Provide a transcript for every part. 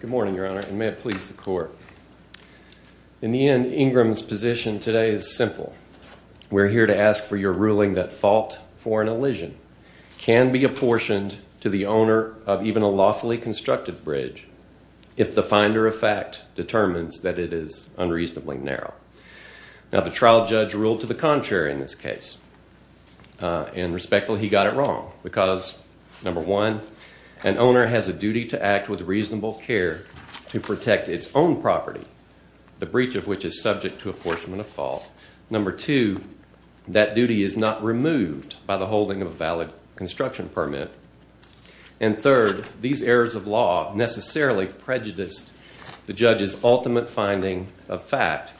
Good morning, Your Honor, and may it please the Court. In the end, Ingram's position today is simple. We're here to ask for your ruling that fault for an elision can be apportioned to the owner of even a lawfully constructed bridge if the finder of fact determines that it is unreasonably narrow. Now, the trial judge ruled to the contrary in this case. And respectfully, he got it wrong because, number one, an owner has a duty to act with reasonable care to protect its own property, the breach of which is subject to apportionment of fault. Number two, that duty is not removed by the holding of a valid construction permit. And third, these errors of law necessarily prejudiced the judge's ultimate finding of fact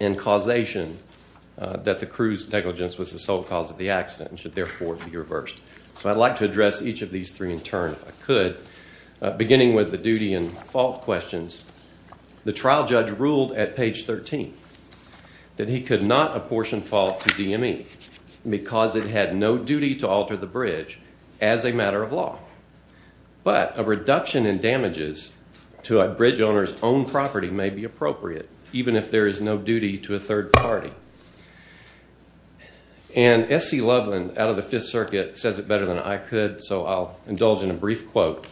and causation that the cruise negligence was the sole cause of the accident and should therefore be reversed. So I'd like to address each of these three in turn if I could, beginning with the duty and fault questions. The trial judge ruled at page 13 that he could not apportion fault to DME because it had no duty to alter the bridge as a matter of law. But a reduction in damages to a bridge owner's own property may be appropriate, even if there is no duty to a third party. And S.C. Loveland out of the Fifth Circuit says it better than I could, so I'll indulge in a brief quote.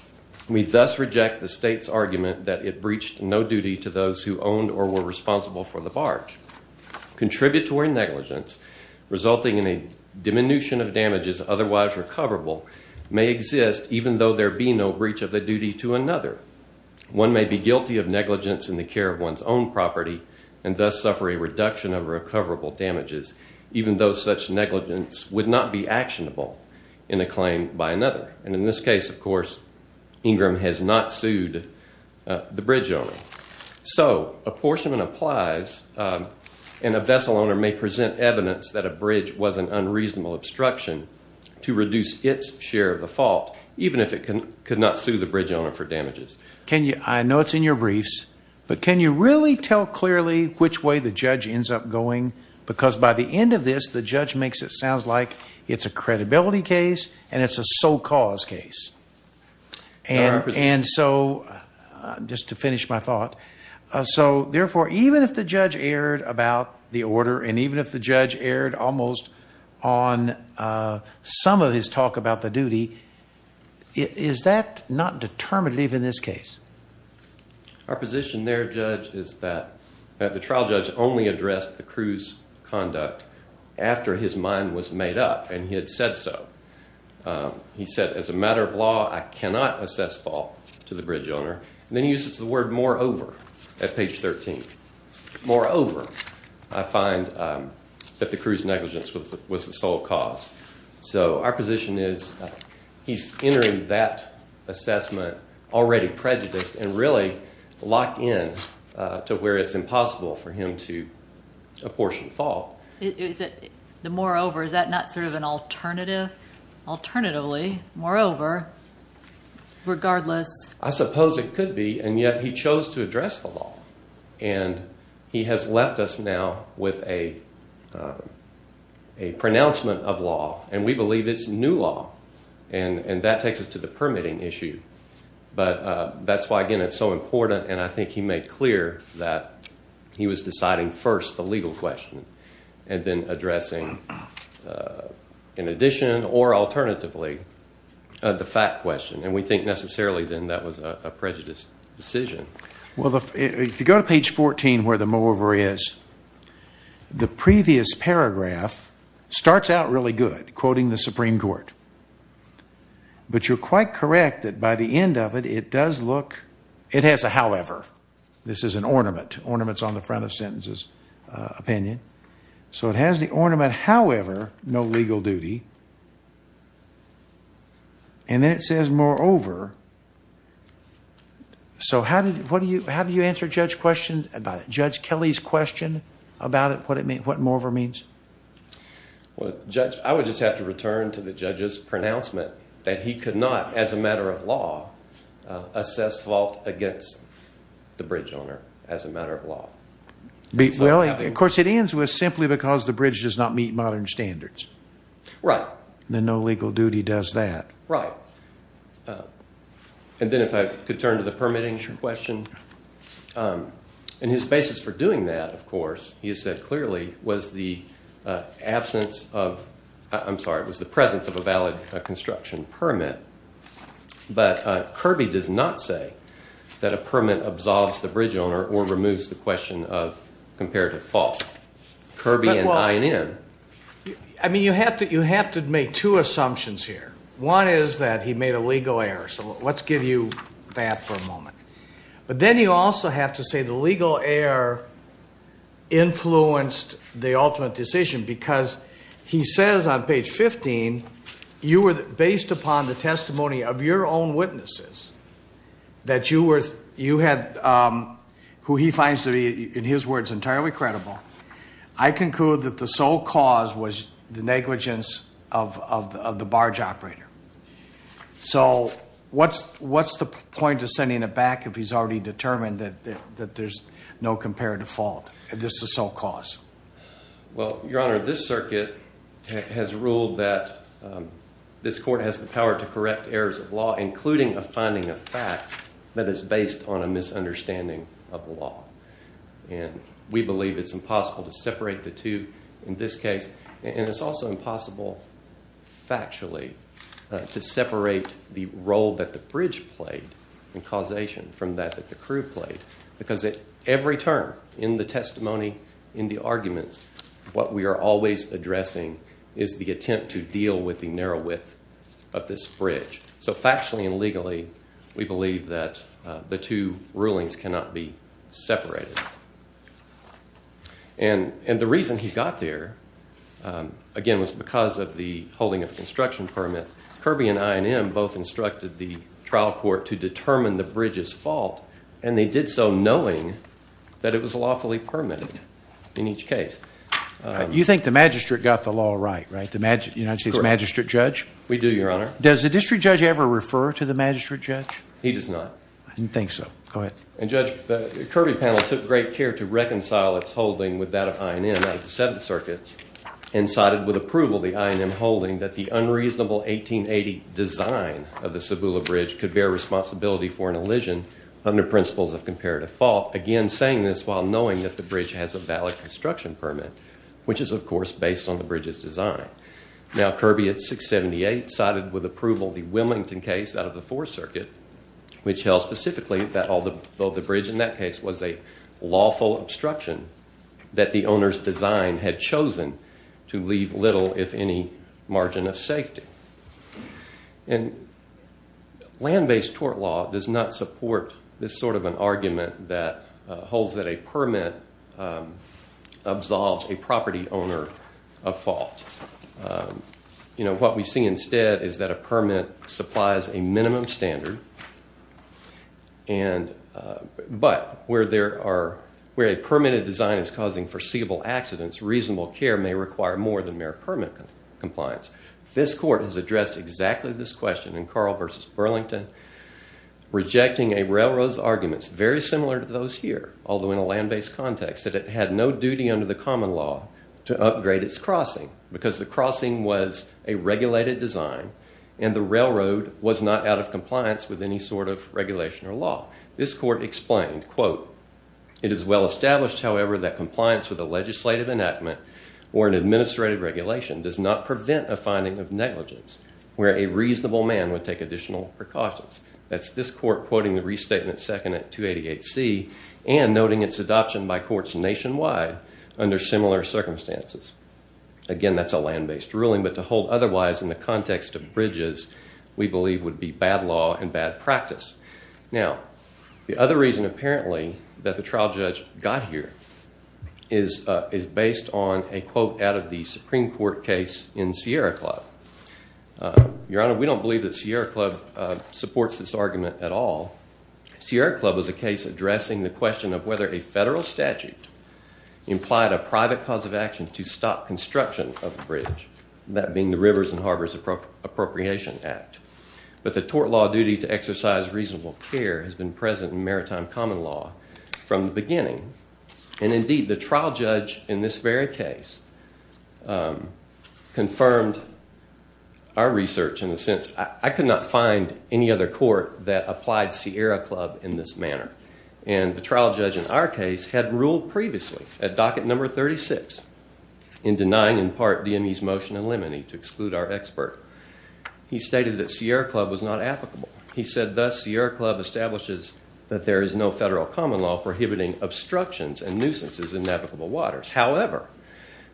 We thus reject the state's argument that it breached no duty to those who owned or were responsible for the barge. Contributory negligence resulting in a diminution of damages otherwise recoverable may exist even though there be no breach of the duty to another. One may be guilty of negligence in the care of one's own property and thus suffer a reduction of recoverable damages even though such negligence would not be actionable in a claim by another. And in this case, of course, Ingram has not sued the bridge owner. So apportionment applies and a vessel owner may present evidence that a bridge was an unreasonable obstruction to reduce its share of the fault, even if it could not sue the bridge owner for damages. Can you I know it's in your briefs, but can you really tell clearly which way the judge ends up going? Because by the end of this, the judge makes it sounds like it's a credibility case and it's a sole cause case. And so just to finish my thought. So therefore, even if the judge erred about the order and even if the judge erred almost on some of his talk about the duty, is that not determinative in this case? Our position there, Judge, is that the trial judge only addressed the cruise conduct after his mind was made up and he had said so. He said, as a matter of law, I cannot assess fault to the bridge owner and then uses the word moreover at page 13. Moreover, I find that the cruise negligence was the sole cause. So our position is he's entering that assessment already prejudiced and really locked in to where it's impossible for him to apportion fault. Moreover, is that not sort of an alternative alternatively? Moreover, regardless, I suppose it could be. And yet he chose to address the law and he has left us now with a. A pronouncement of law, and we believe it's new law and that takes us to the permitting issue. But that's why, again, it's so important. And I think he made clear that he was deciding first the legal question and then addressing in addition or alternatively the fact question. And we think necessarily then that was a prejudiced decision. Well, if you go to page 14 where the moreover is. The previous paragraph starts out really good, quoting the Supreme Court. But you're quite correct that by the end of it, it does look it has a. However, this is an ornament ornaments on the front of sentences opinion. So it has the ornament. However, no legal duty. And then it says moreover. So how did what do you how do you answer Judge question about Judge Kelly's question about it? What it means? What moreover means? Well, Judge, I would just have to return to the judge's pronouncement that he could not, as a matter of law, assess fault against the bridge owner as a matter of law. Well, of course, it ends with simply because the bridge does not meet modern standards. Right. Then no legal duty does that. Right. And then if I could turn to the permitting question and his basis for doing that, of course, you said clearly was the absence of I'm sorry, it was the presence of a valid construction permit. But Kirby does not say that a permit absolves the bridge owner or removes the question of comparative fault. Kirby and I in. I mean, you have to you have to make two assumptions here. One is that he made a legal error. So let's give you that for a moment. But then you also have to say the legal error influenced the ultimate decision because he says on page 15, you were based upon the testimony of your own witnesses. That you were you had who he finds to be, in his words, entirely credible. I conclude that the sole cause was the negligence of the barge operator. So what's what's the point of sending it back if he's already determined that that there's no comparative fault? This is so cause. Well, Your Honor, this circuit has ruled that this court has the power to correct errors of law, including a finding of fact that is based on a misunderstanding of the law. And we believe it's impossible to separate the two in this case. And it's also impossible factually to separate the role that the bridge played in causation from that the crew played. Because every turn in the testimony, in the arguments, what we are always addressing is the attempt to deal with the narrow width of this bridge. So factually and legally, we believe that the two rulings cannot be separated. And the reason he got there, again, was because of the holding of construction permit. Kirby and INM both instructed the trial court to determine the bridge's fault. And they did so knowing that it was lawfully permitted in each case. You think the magistrate got the law right, right? The United States magistrate judge? We do, Your Honor. Does the district judge ever refer to the magistrate judge? He does not. I didn't think so. Go ahead. And, Judge, the Kirby panel took great care to reconcile its holding with that of INM out of the Seventh Circuit and sided with approval of the INM holding that the unreasonable 1880 design of the Cebula Bridge could bear responsibility for an elision under principles of comparative fault. Again, saying this while knowing that the bridge has a valid construction permit, which is, of course, based on the bridge's design. Now, Kirby at 678 sided with approval of the Wilmington case out of the Fourth Circuit, which held specifically that although the bridge in that case was a lawful obstruction, that the owner's design had chosen to leave little, if any, margin of safety. And land-based tort law does not support this sort of an argument that holds that a permit absolves a property owner of fault. What we see instead is that a permit supplies a minimum standard, but where a permitted design is causing foreseeable accidents, reasonable care may require more than mere permit compliance. This court has addressed exactly this question in Carl v. Burlington, rejecting a railroad's arguments very similar to those here, although in a land-based context, that it had no duty under the common law to upgrade its crossing because the crossing was a regulated design and the railroad was not out of compliance with any sort of regulation or law. This court explained, quote, it is well established, however, that compliance with a legislative enactment or an administrative regulation does not prevent a finding of negligence where a reasonable man would take additional precautions. That's this court quoting the restatement second at 288C and noting its adoption by courts nationwide under similar circumstances. Again, that's a land-based ruling, but to hold otherwise in the context of bridges, we believe, would be bad law and bad practice. Now, the other reason, apparently, that the trial judge got here is based on a quote out of the Supreme Court case in Sierra Club. Your Honor, we don't believe that Sierra Club supports this argument at all. Sierra Club is a case addressing the question of whether a federal statute implied a private cause of action to stop construction of a bridge, that being the Rivers and Harbors Appropriation Act. But the tort law duty to exercise reasonable care has been present in maritime common law from the beginning. And indeed, the trial judge in this very case confirmed our research in the sense I could not find any other court that applied Sierra Club in this manner. And the trial judge in our case had ruled previously at docket number 36 in denying in part DME's motion in limine to exclude our expert. He stated that Sierra Club was not applicable. He said, thus, Sierra Club establishes that there is no federal common law prohibiting obstructions and nuisances in navigable waters. However,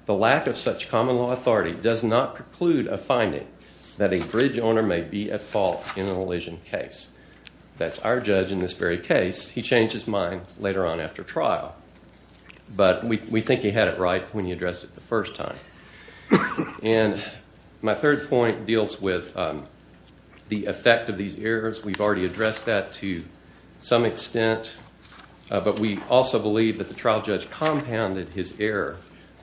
the lack of such common law authority does not preclude a finding that a bridge owner may be at fault in an elision case. That's our judge in this very case. He changed his mind later on after trial. But we think he had it right when he addressed it the first time. And my third point deals with the effect of these errors. We've already addressed that to some extent. But we also believe that the trial judge compounded his error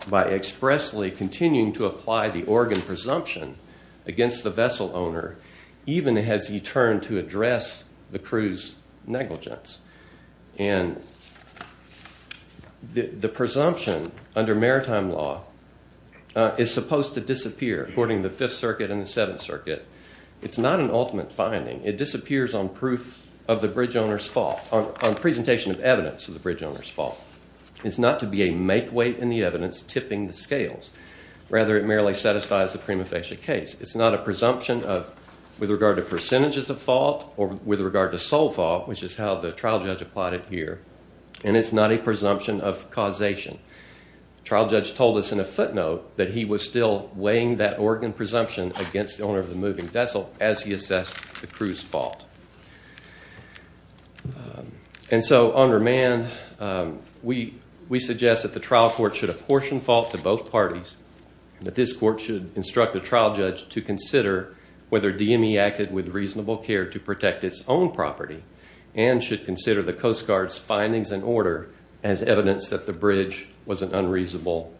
by expressly continuing to apply the Oregon presumption against the vessel owner even as he turned to address the crew's negligence. And the presumption under maritime law is supposed to disappear according to the Fifth Circuit and the Seventh Circuit. It's not an ultimate finding. It disappears on proof of the bridge owner's fault, on presentation of evidence of the bridge owner's fault. It's not to be a make-weight in the evidence tipping the scales. Rather, it merely satisfies the prima facie case. It's not a presumption with regard to percentages of fault or with regard to sole fault, which is how the trial judge applied it here. And it's not a presumption of causation. The trial judge told us in a footnote that he was still weighing that Oregon presumption against the owner of the moving vessel as he assessed the crew's fault. And so under Mann, we suggest that the trial court should apportion fault to both parties. That this court should instruct the trial judge to consider whether DME acted with reasonable care to protect its own property and should consider the Coast Guard's findings and order as evidence that the bridge was an unreasonable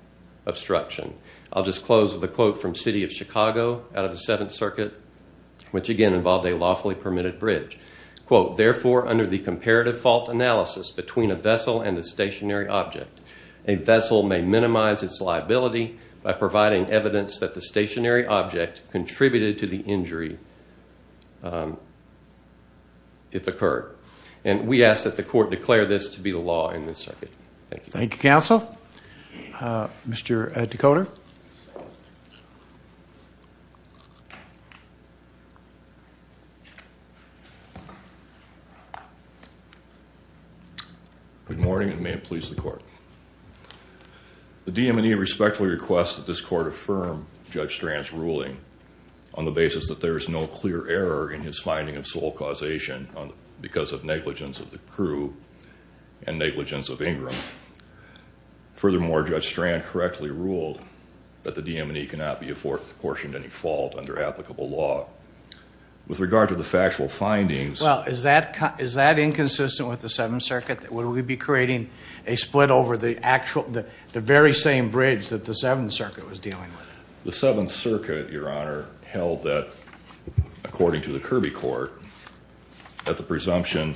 obstruction. I'll just close with a quote from City of Chicago out of the Seventh Circuit, which again involved a lawfully permitted bridge. Quote, therefore, under the comparative fault analysis between a vessel and a stationary object, a vessel may minimize its liability by providing evidence that the stationary object contributed to the injury if occurred. And we ask that the court declare this to be the law in this circuit. Thank you. Thank you, counsel. Mr. Decoder? Good morning and may it please the court. The DM&E respectfully requests that this court affirm Judge Strand's ruling on the basis that there is no clear error in his finding of sole causation because of negligence of the crew and negligence of Ingram. Furthermore, Judge Strand correctly ruled that the DM&E cannot be apportioned any fault under applicable law. With regard to the factual findings... Well, is that inconsistent with the Seventh Circuit? Would we be creating a split over the very same bridge that the Seventh Circuit was dealing with? The Seventh Circuit, Your Honor, held that, according to the Kirby court, that the presumption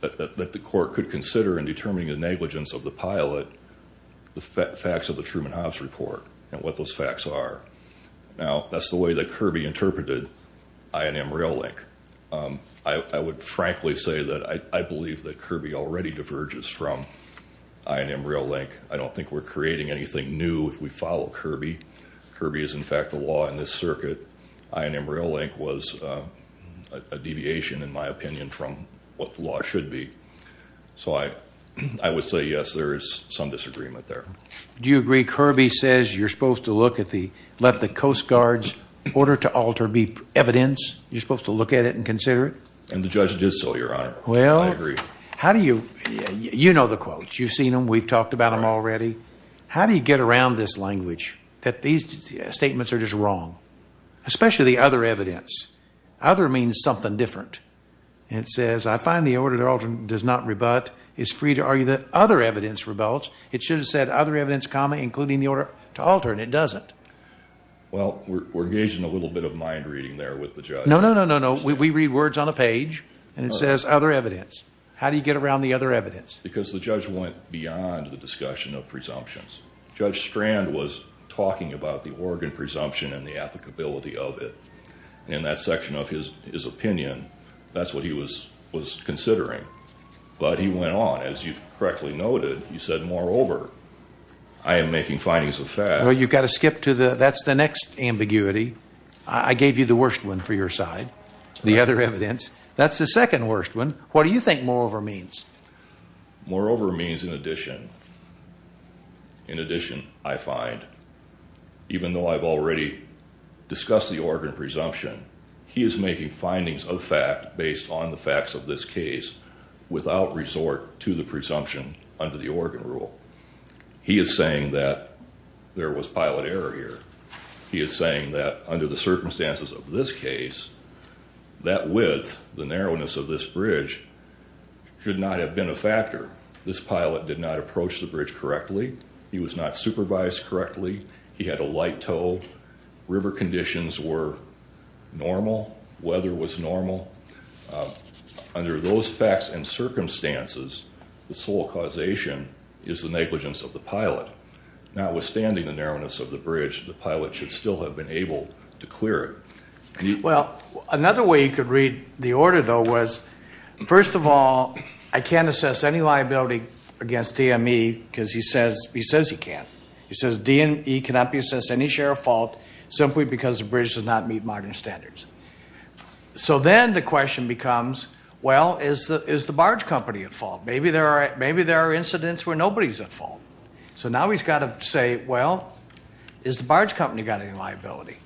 that the court could consider in determining the negligence of the pilot, the facts of the Truman-Hobbs report and what those facts are. Now, that's the way that Kirby interpreted I&M Rail Link. I would frankly say that I believe that Kirby already diverges from I&M Rail Link. I don't think we're creating anything new if we follow Kirby. Kirby is, in fact, the law in this circuit. I&M Rail Link was a deviation, in my opinion, from what the law should be. So I would say, yes, there is some disagreement there. Do you agree Kirby says you're supposed to look at the, let the Coast Guard's order to alter be evidence? You're supposed to look at it and consider it? And the judge did so, Your Honor. Well, how do you... You know the quotes. You've seen them. We've talked about them already. How do you get around this language that these statements are just wrong, especially the other evidence? Other means something different. It says, I find the order to alter does not rebut. It's free to argue that other evidence rebuts. It should have said other evidence, comma, including the order to alter, and it doesn't. Well, we're engaging a little bit of mind reading there with the judge. No, no, no, no, no. We read words on a page, and it says other evidence. How do you get around the other evidence? Because the judge went beyond the discussion of presumptions. Judge Strand was talking about the Oregon presumption and the applicability of it. In that section of his opinion, that's what he was considering. But he went on. As you correctly noted, you said, moreover, I am making findings of fact. Well, you've got to skip to the next ambiguity. I gave you the worst one for your side, the other evidence. That's the second worst one. What do you think moreover means? Moreover means in addition. In addition, I find, even though I've already discussed the Oregon presumption, he is making findings of fact based on the facts of this case without resort to the presumption under the Oregon rule. He is saying that there was pilot error here. He is saying that under the circumstances of this case, that width, the narrowness of this bridge, should not have been a factor. This pilot did not approach the bridge correctly. He was not supervised correctly. He had a light tow. River conditions were normal. Weather was normal. Under those facts and circumstances, the sole causation is the negligence of the pilot. Notwithstanding the narrowness of the bridge, the pilot should still have been able to clear it. Well, another way you could read the order, though, was, first of all, I can't assess any liability against DME because he says he can't. He says DME cannot be assessed any share of fault simply because the bridge does not meet modern standards. So then the question becomes, well, is the barge company at fault? Maybe there are incidents where nobody is at fault. So now he's got to say, well, has the barge company got any liability?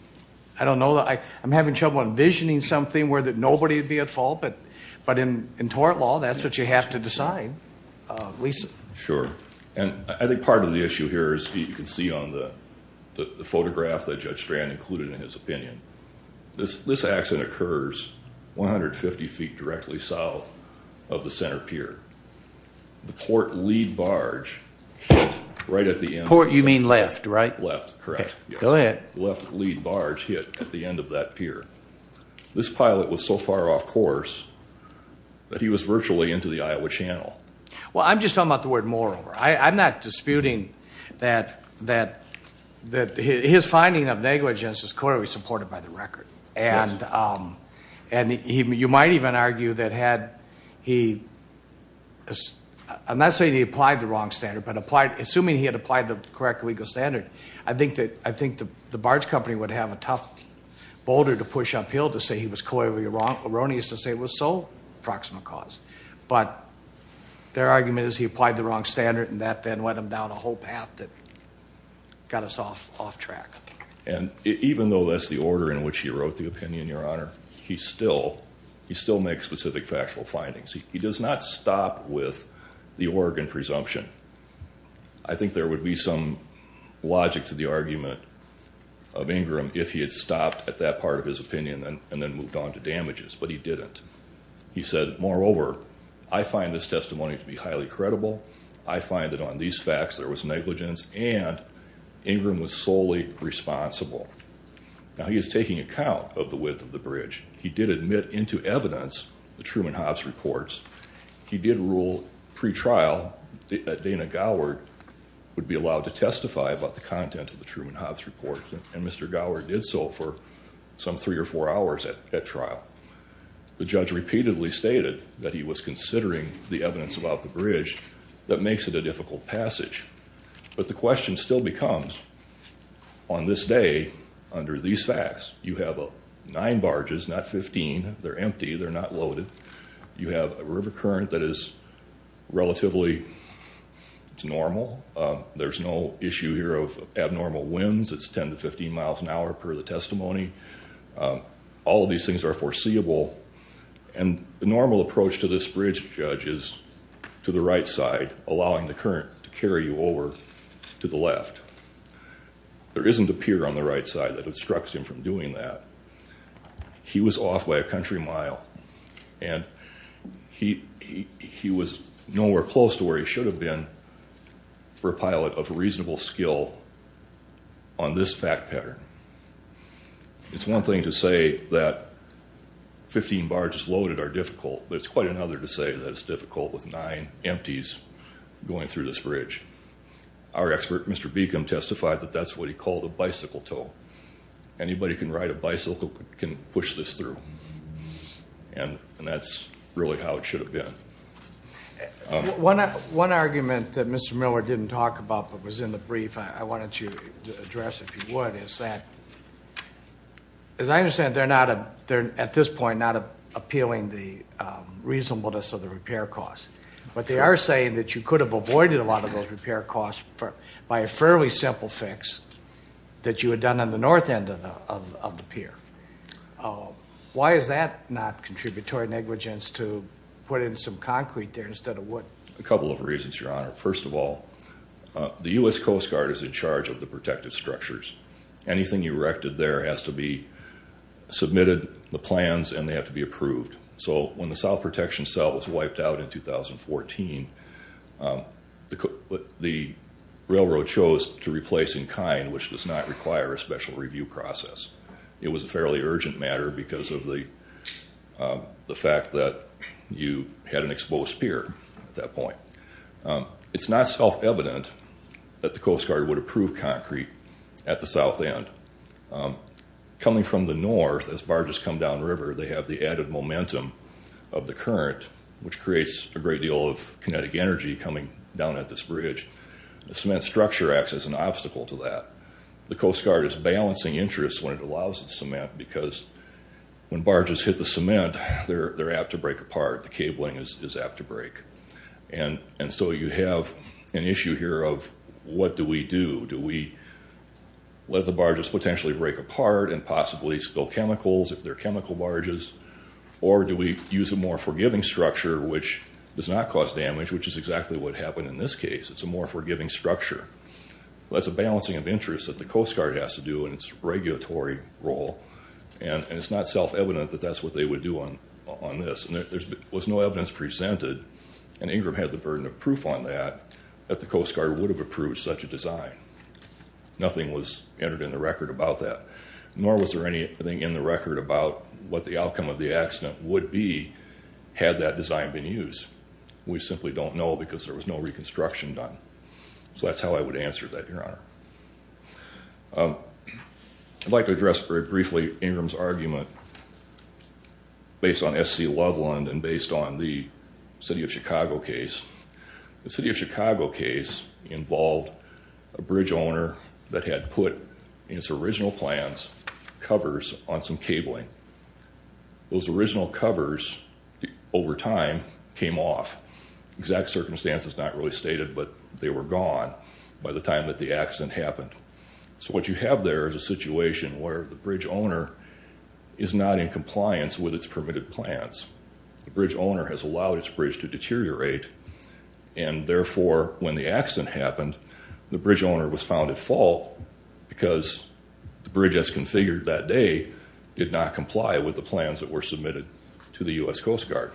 I don't know. I'm having trouble envisioning something where nobody would be at fault, but in tort law, that's what you have to decide. Lisa. Sure. And I think part of the issue here, as you can see on the photograph that Judge Strand included in his opinion, this accident occurs 150 feet directly south of the center pier. The port lead barge hit right at the end. Port, you mean left, right? Left, correct. Go ahead. The left lead barge hit at the end of that pier. This pilot was so far off course that he was virtually into the Iowa Channel. Well, I'm just talking about the word moreover. I'm not disputing that his finding of negligence is clearly supported by the record. And you might even argue that had he, I'm not saying he applied the wrong standard, but assuming he had applied the correct legal standard, I think the barge company would have a tough boulder to push uphill to say he was clearly erroneous and say it was so proximal cause. But their argument is he applied the wrong standard, and that then went him down a whole path that got us off track. And even though that's the order in which he wrote the opinion, Your Honor, he still makes specific factual findings. He does not stop with the Oregon presumption. I think there would be some logic to the argument of Ingram if he had stopped at that part of his opinion and then moved on to damages, but he didn't. He said, moreover, I find this testimony to be highly credible. I find that on these facts there was negligence, and Ingram was solely responsible. Now, he is taking account of the width of the bridge. He did admit into evidence the Truman-Hobbs reports. He did rule pretrial that Dana Goward would be allowed to testify about the content of the Truman-Hobbs report, and Mr. Goward did so for some three or four hours at trial. The judge repeatedly stated that he was considering the evidence about the bridge that makes it a difficult passage. But the question still becomes, on this day, under these facts, you have nine barges, not 15. They're empty. They're not loaded. You have a river current that is relatively normal. There's no issue here of abnormal winds. It's 10 to 15 miles an hour per the testimony. All of these things are foreseeable, and the normal approach to this bridge, Judge, is to the right side, allowing the current to carry you over to the left. There isn't a pier on the right side that obstructs him from doing that. He was off by a country mile, and he was nowhere close to where he should have been. For a pilot of reasonable skill on this fact pattern, it's one thing to say that 15 barges loaded are difficult, but it's quite another to say that it's difficult with nine empties going through this bridge. Our expert, Mr. Beacom, testified that that's what he called a bicycle tow. Anybody who can ride a bicycle can push this through, and that's really how it should have been. One argument that Mr. Miller didn't talk about but was in the brief I wanted you to address, if you would, is that, as I understand it, they're at this point not appealing the reasonableness of the repair costs, but they are saying that you could have avoided a lot of those repair costs by a fairly simple fix that you had done on the north end of the pier. Why is that not contributory negligence to put in some concrete there instead of wood? A couple of reasons, Your Honor. First of all, the U.S. Coast Guard is in charge of the protective structures. Anything erected there has to be submitted, the plans, and they have to be approved. So when the south protection cell was wiped out in 2014, the railroad chose to replace in kind, which does not require a special review process. It was a fairly urgent matter because of the fact that you had an exposed pier at that point. It's not self-evident that the Coast Guard would approve concrete at the south end. Coming from the north, as barges come downriver, they have the added momentum of the current, which creates a great deal of kinetic energy coming down at this bridge. The cement structure acts as an obstacle to that. The Coast Guard is balancing interests when it allows the cement because when barges hit the cement, they're apt to break apart. The cabling is apt to break. And so you have an issue here of what do we do. Do we let the barges potentially break apart and possibly spill chemicals if they're chemical barges, or do we use a more forgiving structure which does not cause damage, which is exactly what happened in this case. It's a more forgiving structure. That's a balancing of interests that the Coast Guard has to do in its regulatory role, and it's not self-evident that that's what they would do on this. There was no evidence presented, and Ingram had the burden of proof on that, that the Coast Guard would have approved such a design. Nothing was entered in the record about that, nor was there anything in the record about what the outcome of the accident would be had that design been used. We simply don't know because there was no reconstruction done. So that's how I would answer that, Your Honor. I'd like to address very briefly Ingram's argument based on S.C. Loveland and based on the City of Chicago case. The City of Chicago case involved a bridge owner that had put, in its original plans, covers on some cabling. Those original covers, over time, came off. The exact circumstance is not really stated, but they were gone by the time that the accident happened. So what you have there is a situation where the bridge owner is not in compliance with its permitted plans. The bridge owner has allowed its bridge to deteriorate, and therefore when the accident happened, the bridge owner was found at fault because the bridge as configured that day did not comply with the plans that were submitted to the U.S. Coast Guard.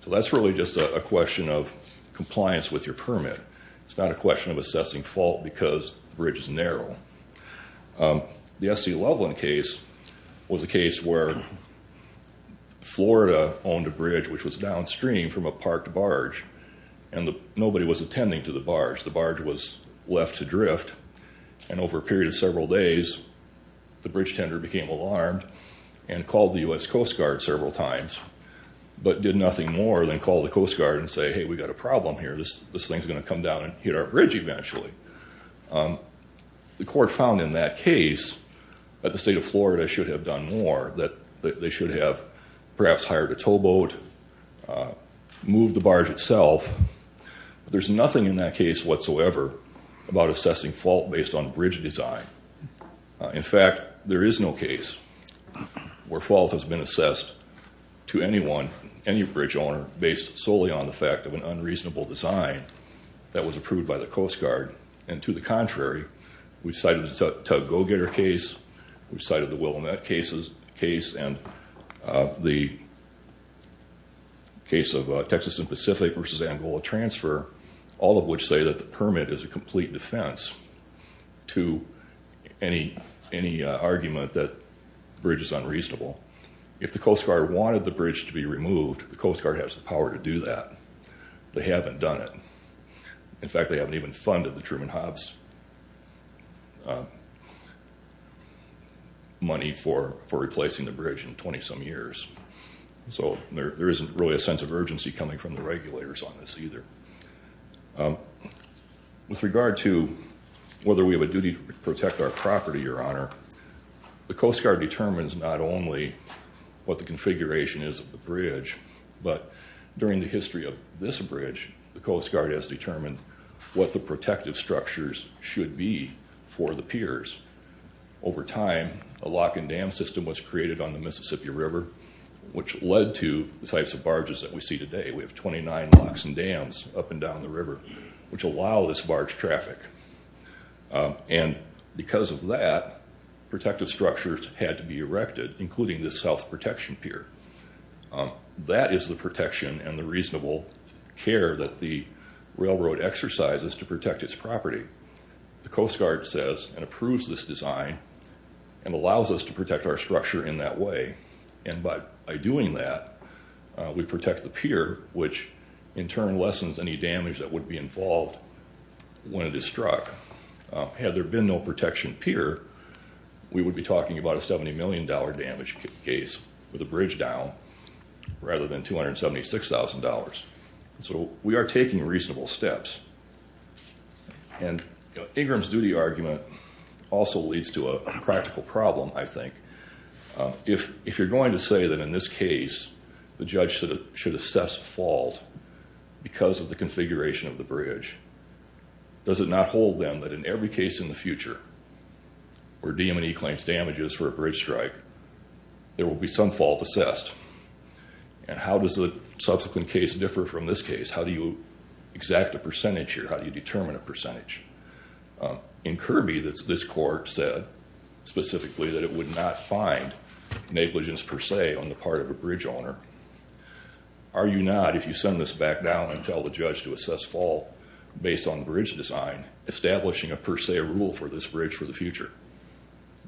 So that's really just a question of compliance with your permit. It's not a question of assessing fault because the bridge is narrow. The S.C. Loveland case was a case where Florida owned a bridge which was downstream from a parked barge, and nobody was attending to the barge. The barge was left to drift, and over a period of several days, the bridge tender became alarmed and called the U.S. Coast Guard several times. But did nothing more than call the Coast Guard and say, hey, we've got a problem here. This thing is going to come down and hit our bridge eventually. The court found in that case that the state of Florida should have done more, that they should have perhaps hired a towboat, moved the barge itself. There's nothing in that case whatsoever about assessing fault based on bridge design. In fact, there is no case where fault has been assessed to anyone, any bridge owner, based solely on the fact of an unreasonable design that was approved by the Coast Guard. And to the contrary, we cited the Tug Go-Getter case, we cited the Willamette case, and the case of Texas and Pacific versus Angola transfer, all of which say that the permit is a complete defense to any argument that the bridge is unreasonable. If the Coast Guard wanted the bridge to be removed, the Coast Guard has the power to do that. They haven't done it. In fact, they haven't even funded the Truman Hobbs money for replacing the bridge in 20-some years. So there isn't really a sense of urgency coming from the regulators on this either. With regard to whether we have a duty to protect our property, Your Honor, the Coast Guard determines not only what the configuration is of the bridge, but during the history of this bridge, the Coast Guard has determined what the protective structures should be for the piers. Over time, a lock and dam system was created on the Mississippi River, which led to the types of barges that we see today. We have 29 locks and dams up and down the river, which allow this barge traffic. And because of that, protective structures had to be erected, including this south protection pier. That is the protection and the reasonable care that the railroad exercises to protect its property. The Coast Guard says and approves this design and allows us to protect our structure in that way. And by doing that, we protect the pier, which in turn lessens any damage that would be involved when it is struck. Had there been no protection pier, we would be talking about a $70 million damage case with the bridge down rather than $276,000. So we are taking reasonable steps. And Ingram's duty argument also leads to a practical problem, I think. If you're going to say that in this case the judge should assess fault because of the configuration of the bridge, does it not hold them that in every case in the future where DM&E claims damages for a bridge strike, there will be some fault assessed? And how does the subsequent case differ from this case? How do you exact a percentage here? How do you determine a percentage? In Kirby, this court said specifically that it would not find negligence per se on the part of a bridge owner. Are you not, if you send this back down and tell the judge to assess fault based on bridge design, establishing a per se rule for this bridge for the future?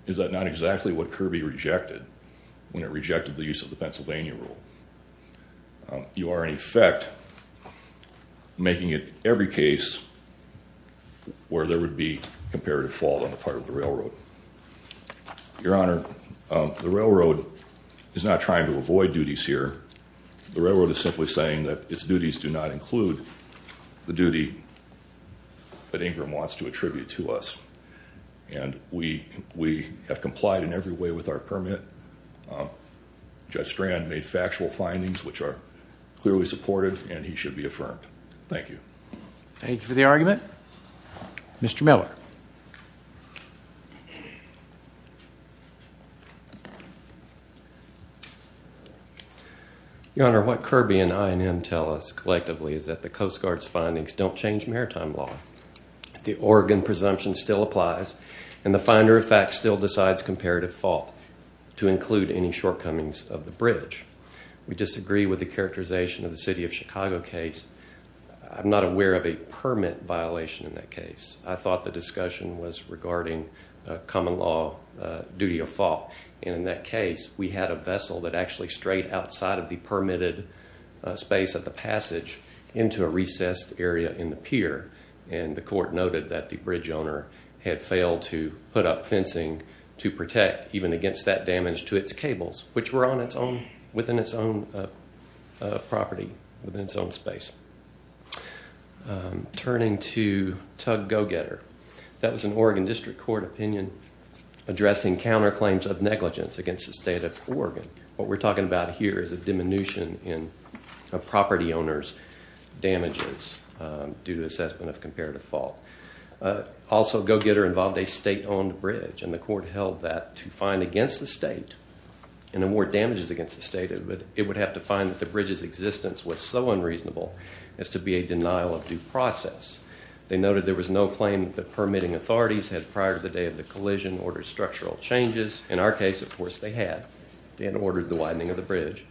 Is that not exactly what Kirby rejected when it rejected the use of the Pennsylvania rule? You are, in effect, making it every case where there would be comparative fault on the part of the railroad. Your Honor, the railroad is not trying to avoid duties here. The railroad is simply saying that its duties do not include the duty that Ingram wants to attribute to us. And we have complied in every way with our permit. Judge Strand made factual findings which are clearly supported and he should be affirmed. Thank you. Thank you for the argument. Mr. Miller. Your Honor, what Kirby and I&M tell us collectively is that the Coast Guard's findings don't change maritime law. The Oregon presumption still applies and the finder of fact still decides comparative fault to include any shortcomings of the bridge. We disagree with the characterization of the city of Chicago case. I'm not aware of a permit violation in that case. I thought the discussion was regarding common law duty of fault. And in that case, we had a vessel that actually strayed outside of the permitted space at the passage into a recessed area in the pier. And the court noted that the bridge owner had failed to put up fencing to protect even against that damage to its cables, which were on its own, within its own property, within its own space. Turning to Tug Go-Getter. That was an Oregon District Court opinion addressing counterclaims of negligence against the state of Oregon. What we're talking about here is a diminution in property owners' damages due to assessment of comparative fault. Also, Go-Getter involved a state-owned bridge, and the court held that to find against the state and award damages against the state, it would have to find that the bridge's existence was so unreasonable as to be a denial of due process. They noted there was no claim that permitting authorities had prior to the day of the collision ordered structural changes. In our case, of course, they had. They had ordered the widening of the bridge.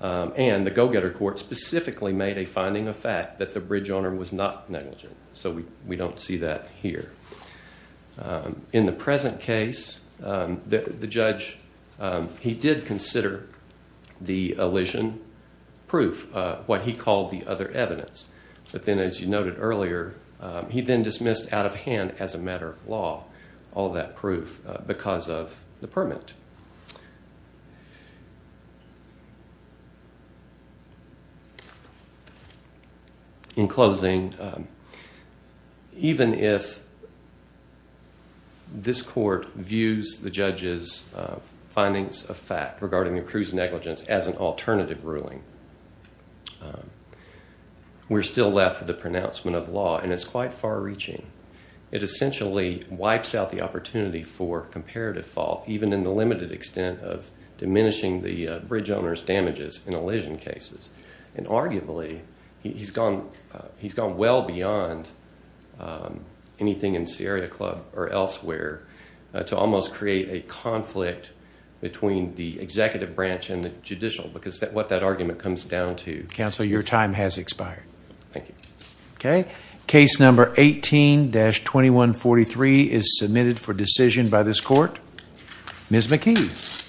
And the Go-Getter Court specifically made a finding of fact that the bridge owner was not negligent. So we don't see that here. In the present case, the judge, he did consider the elision proof, what he called the other evidence. But then, as you noted earlier, he then dismissed out of hand as a matter of law all that proof because of the permit. In closing, even if this court views the judge's findings of fact regarding the accrued negligence as an alternative ruling, we're still left with the pronouncement of law, and it's quite far-reaching. It essentially wipes out the opportunity for comparative fault, even in the limited extent of diminishing the bridge owner's damages in elision cases. And arguably, he's gone well beyond anything in Sierra Club or elsewhere to almost create a conflict between the executive branch and the judicial because what that argument comes down to... Counsel, your time has expired. Thank you. Okay. Case number 18-2143 is submitted for decision by this court. Ms. McKee.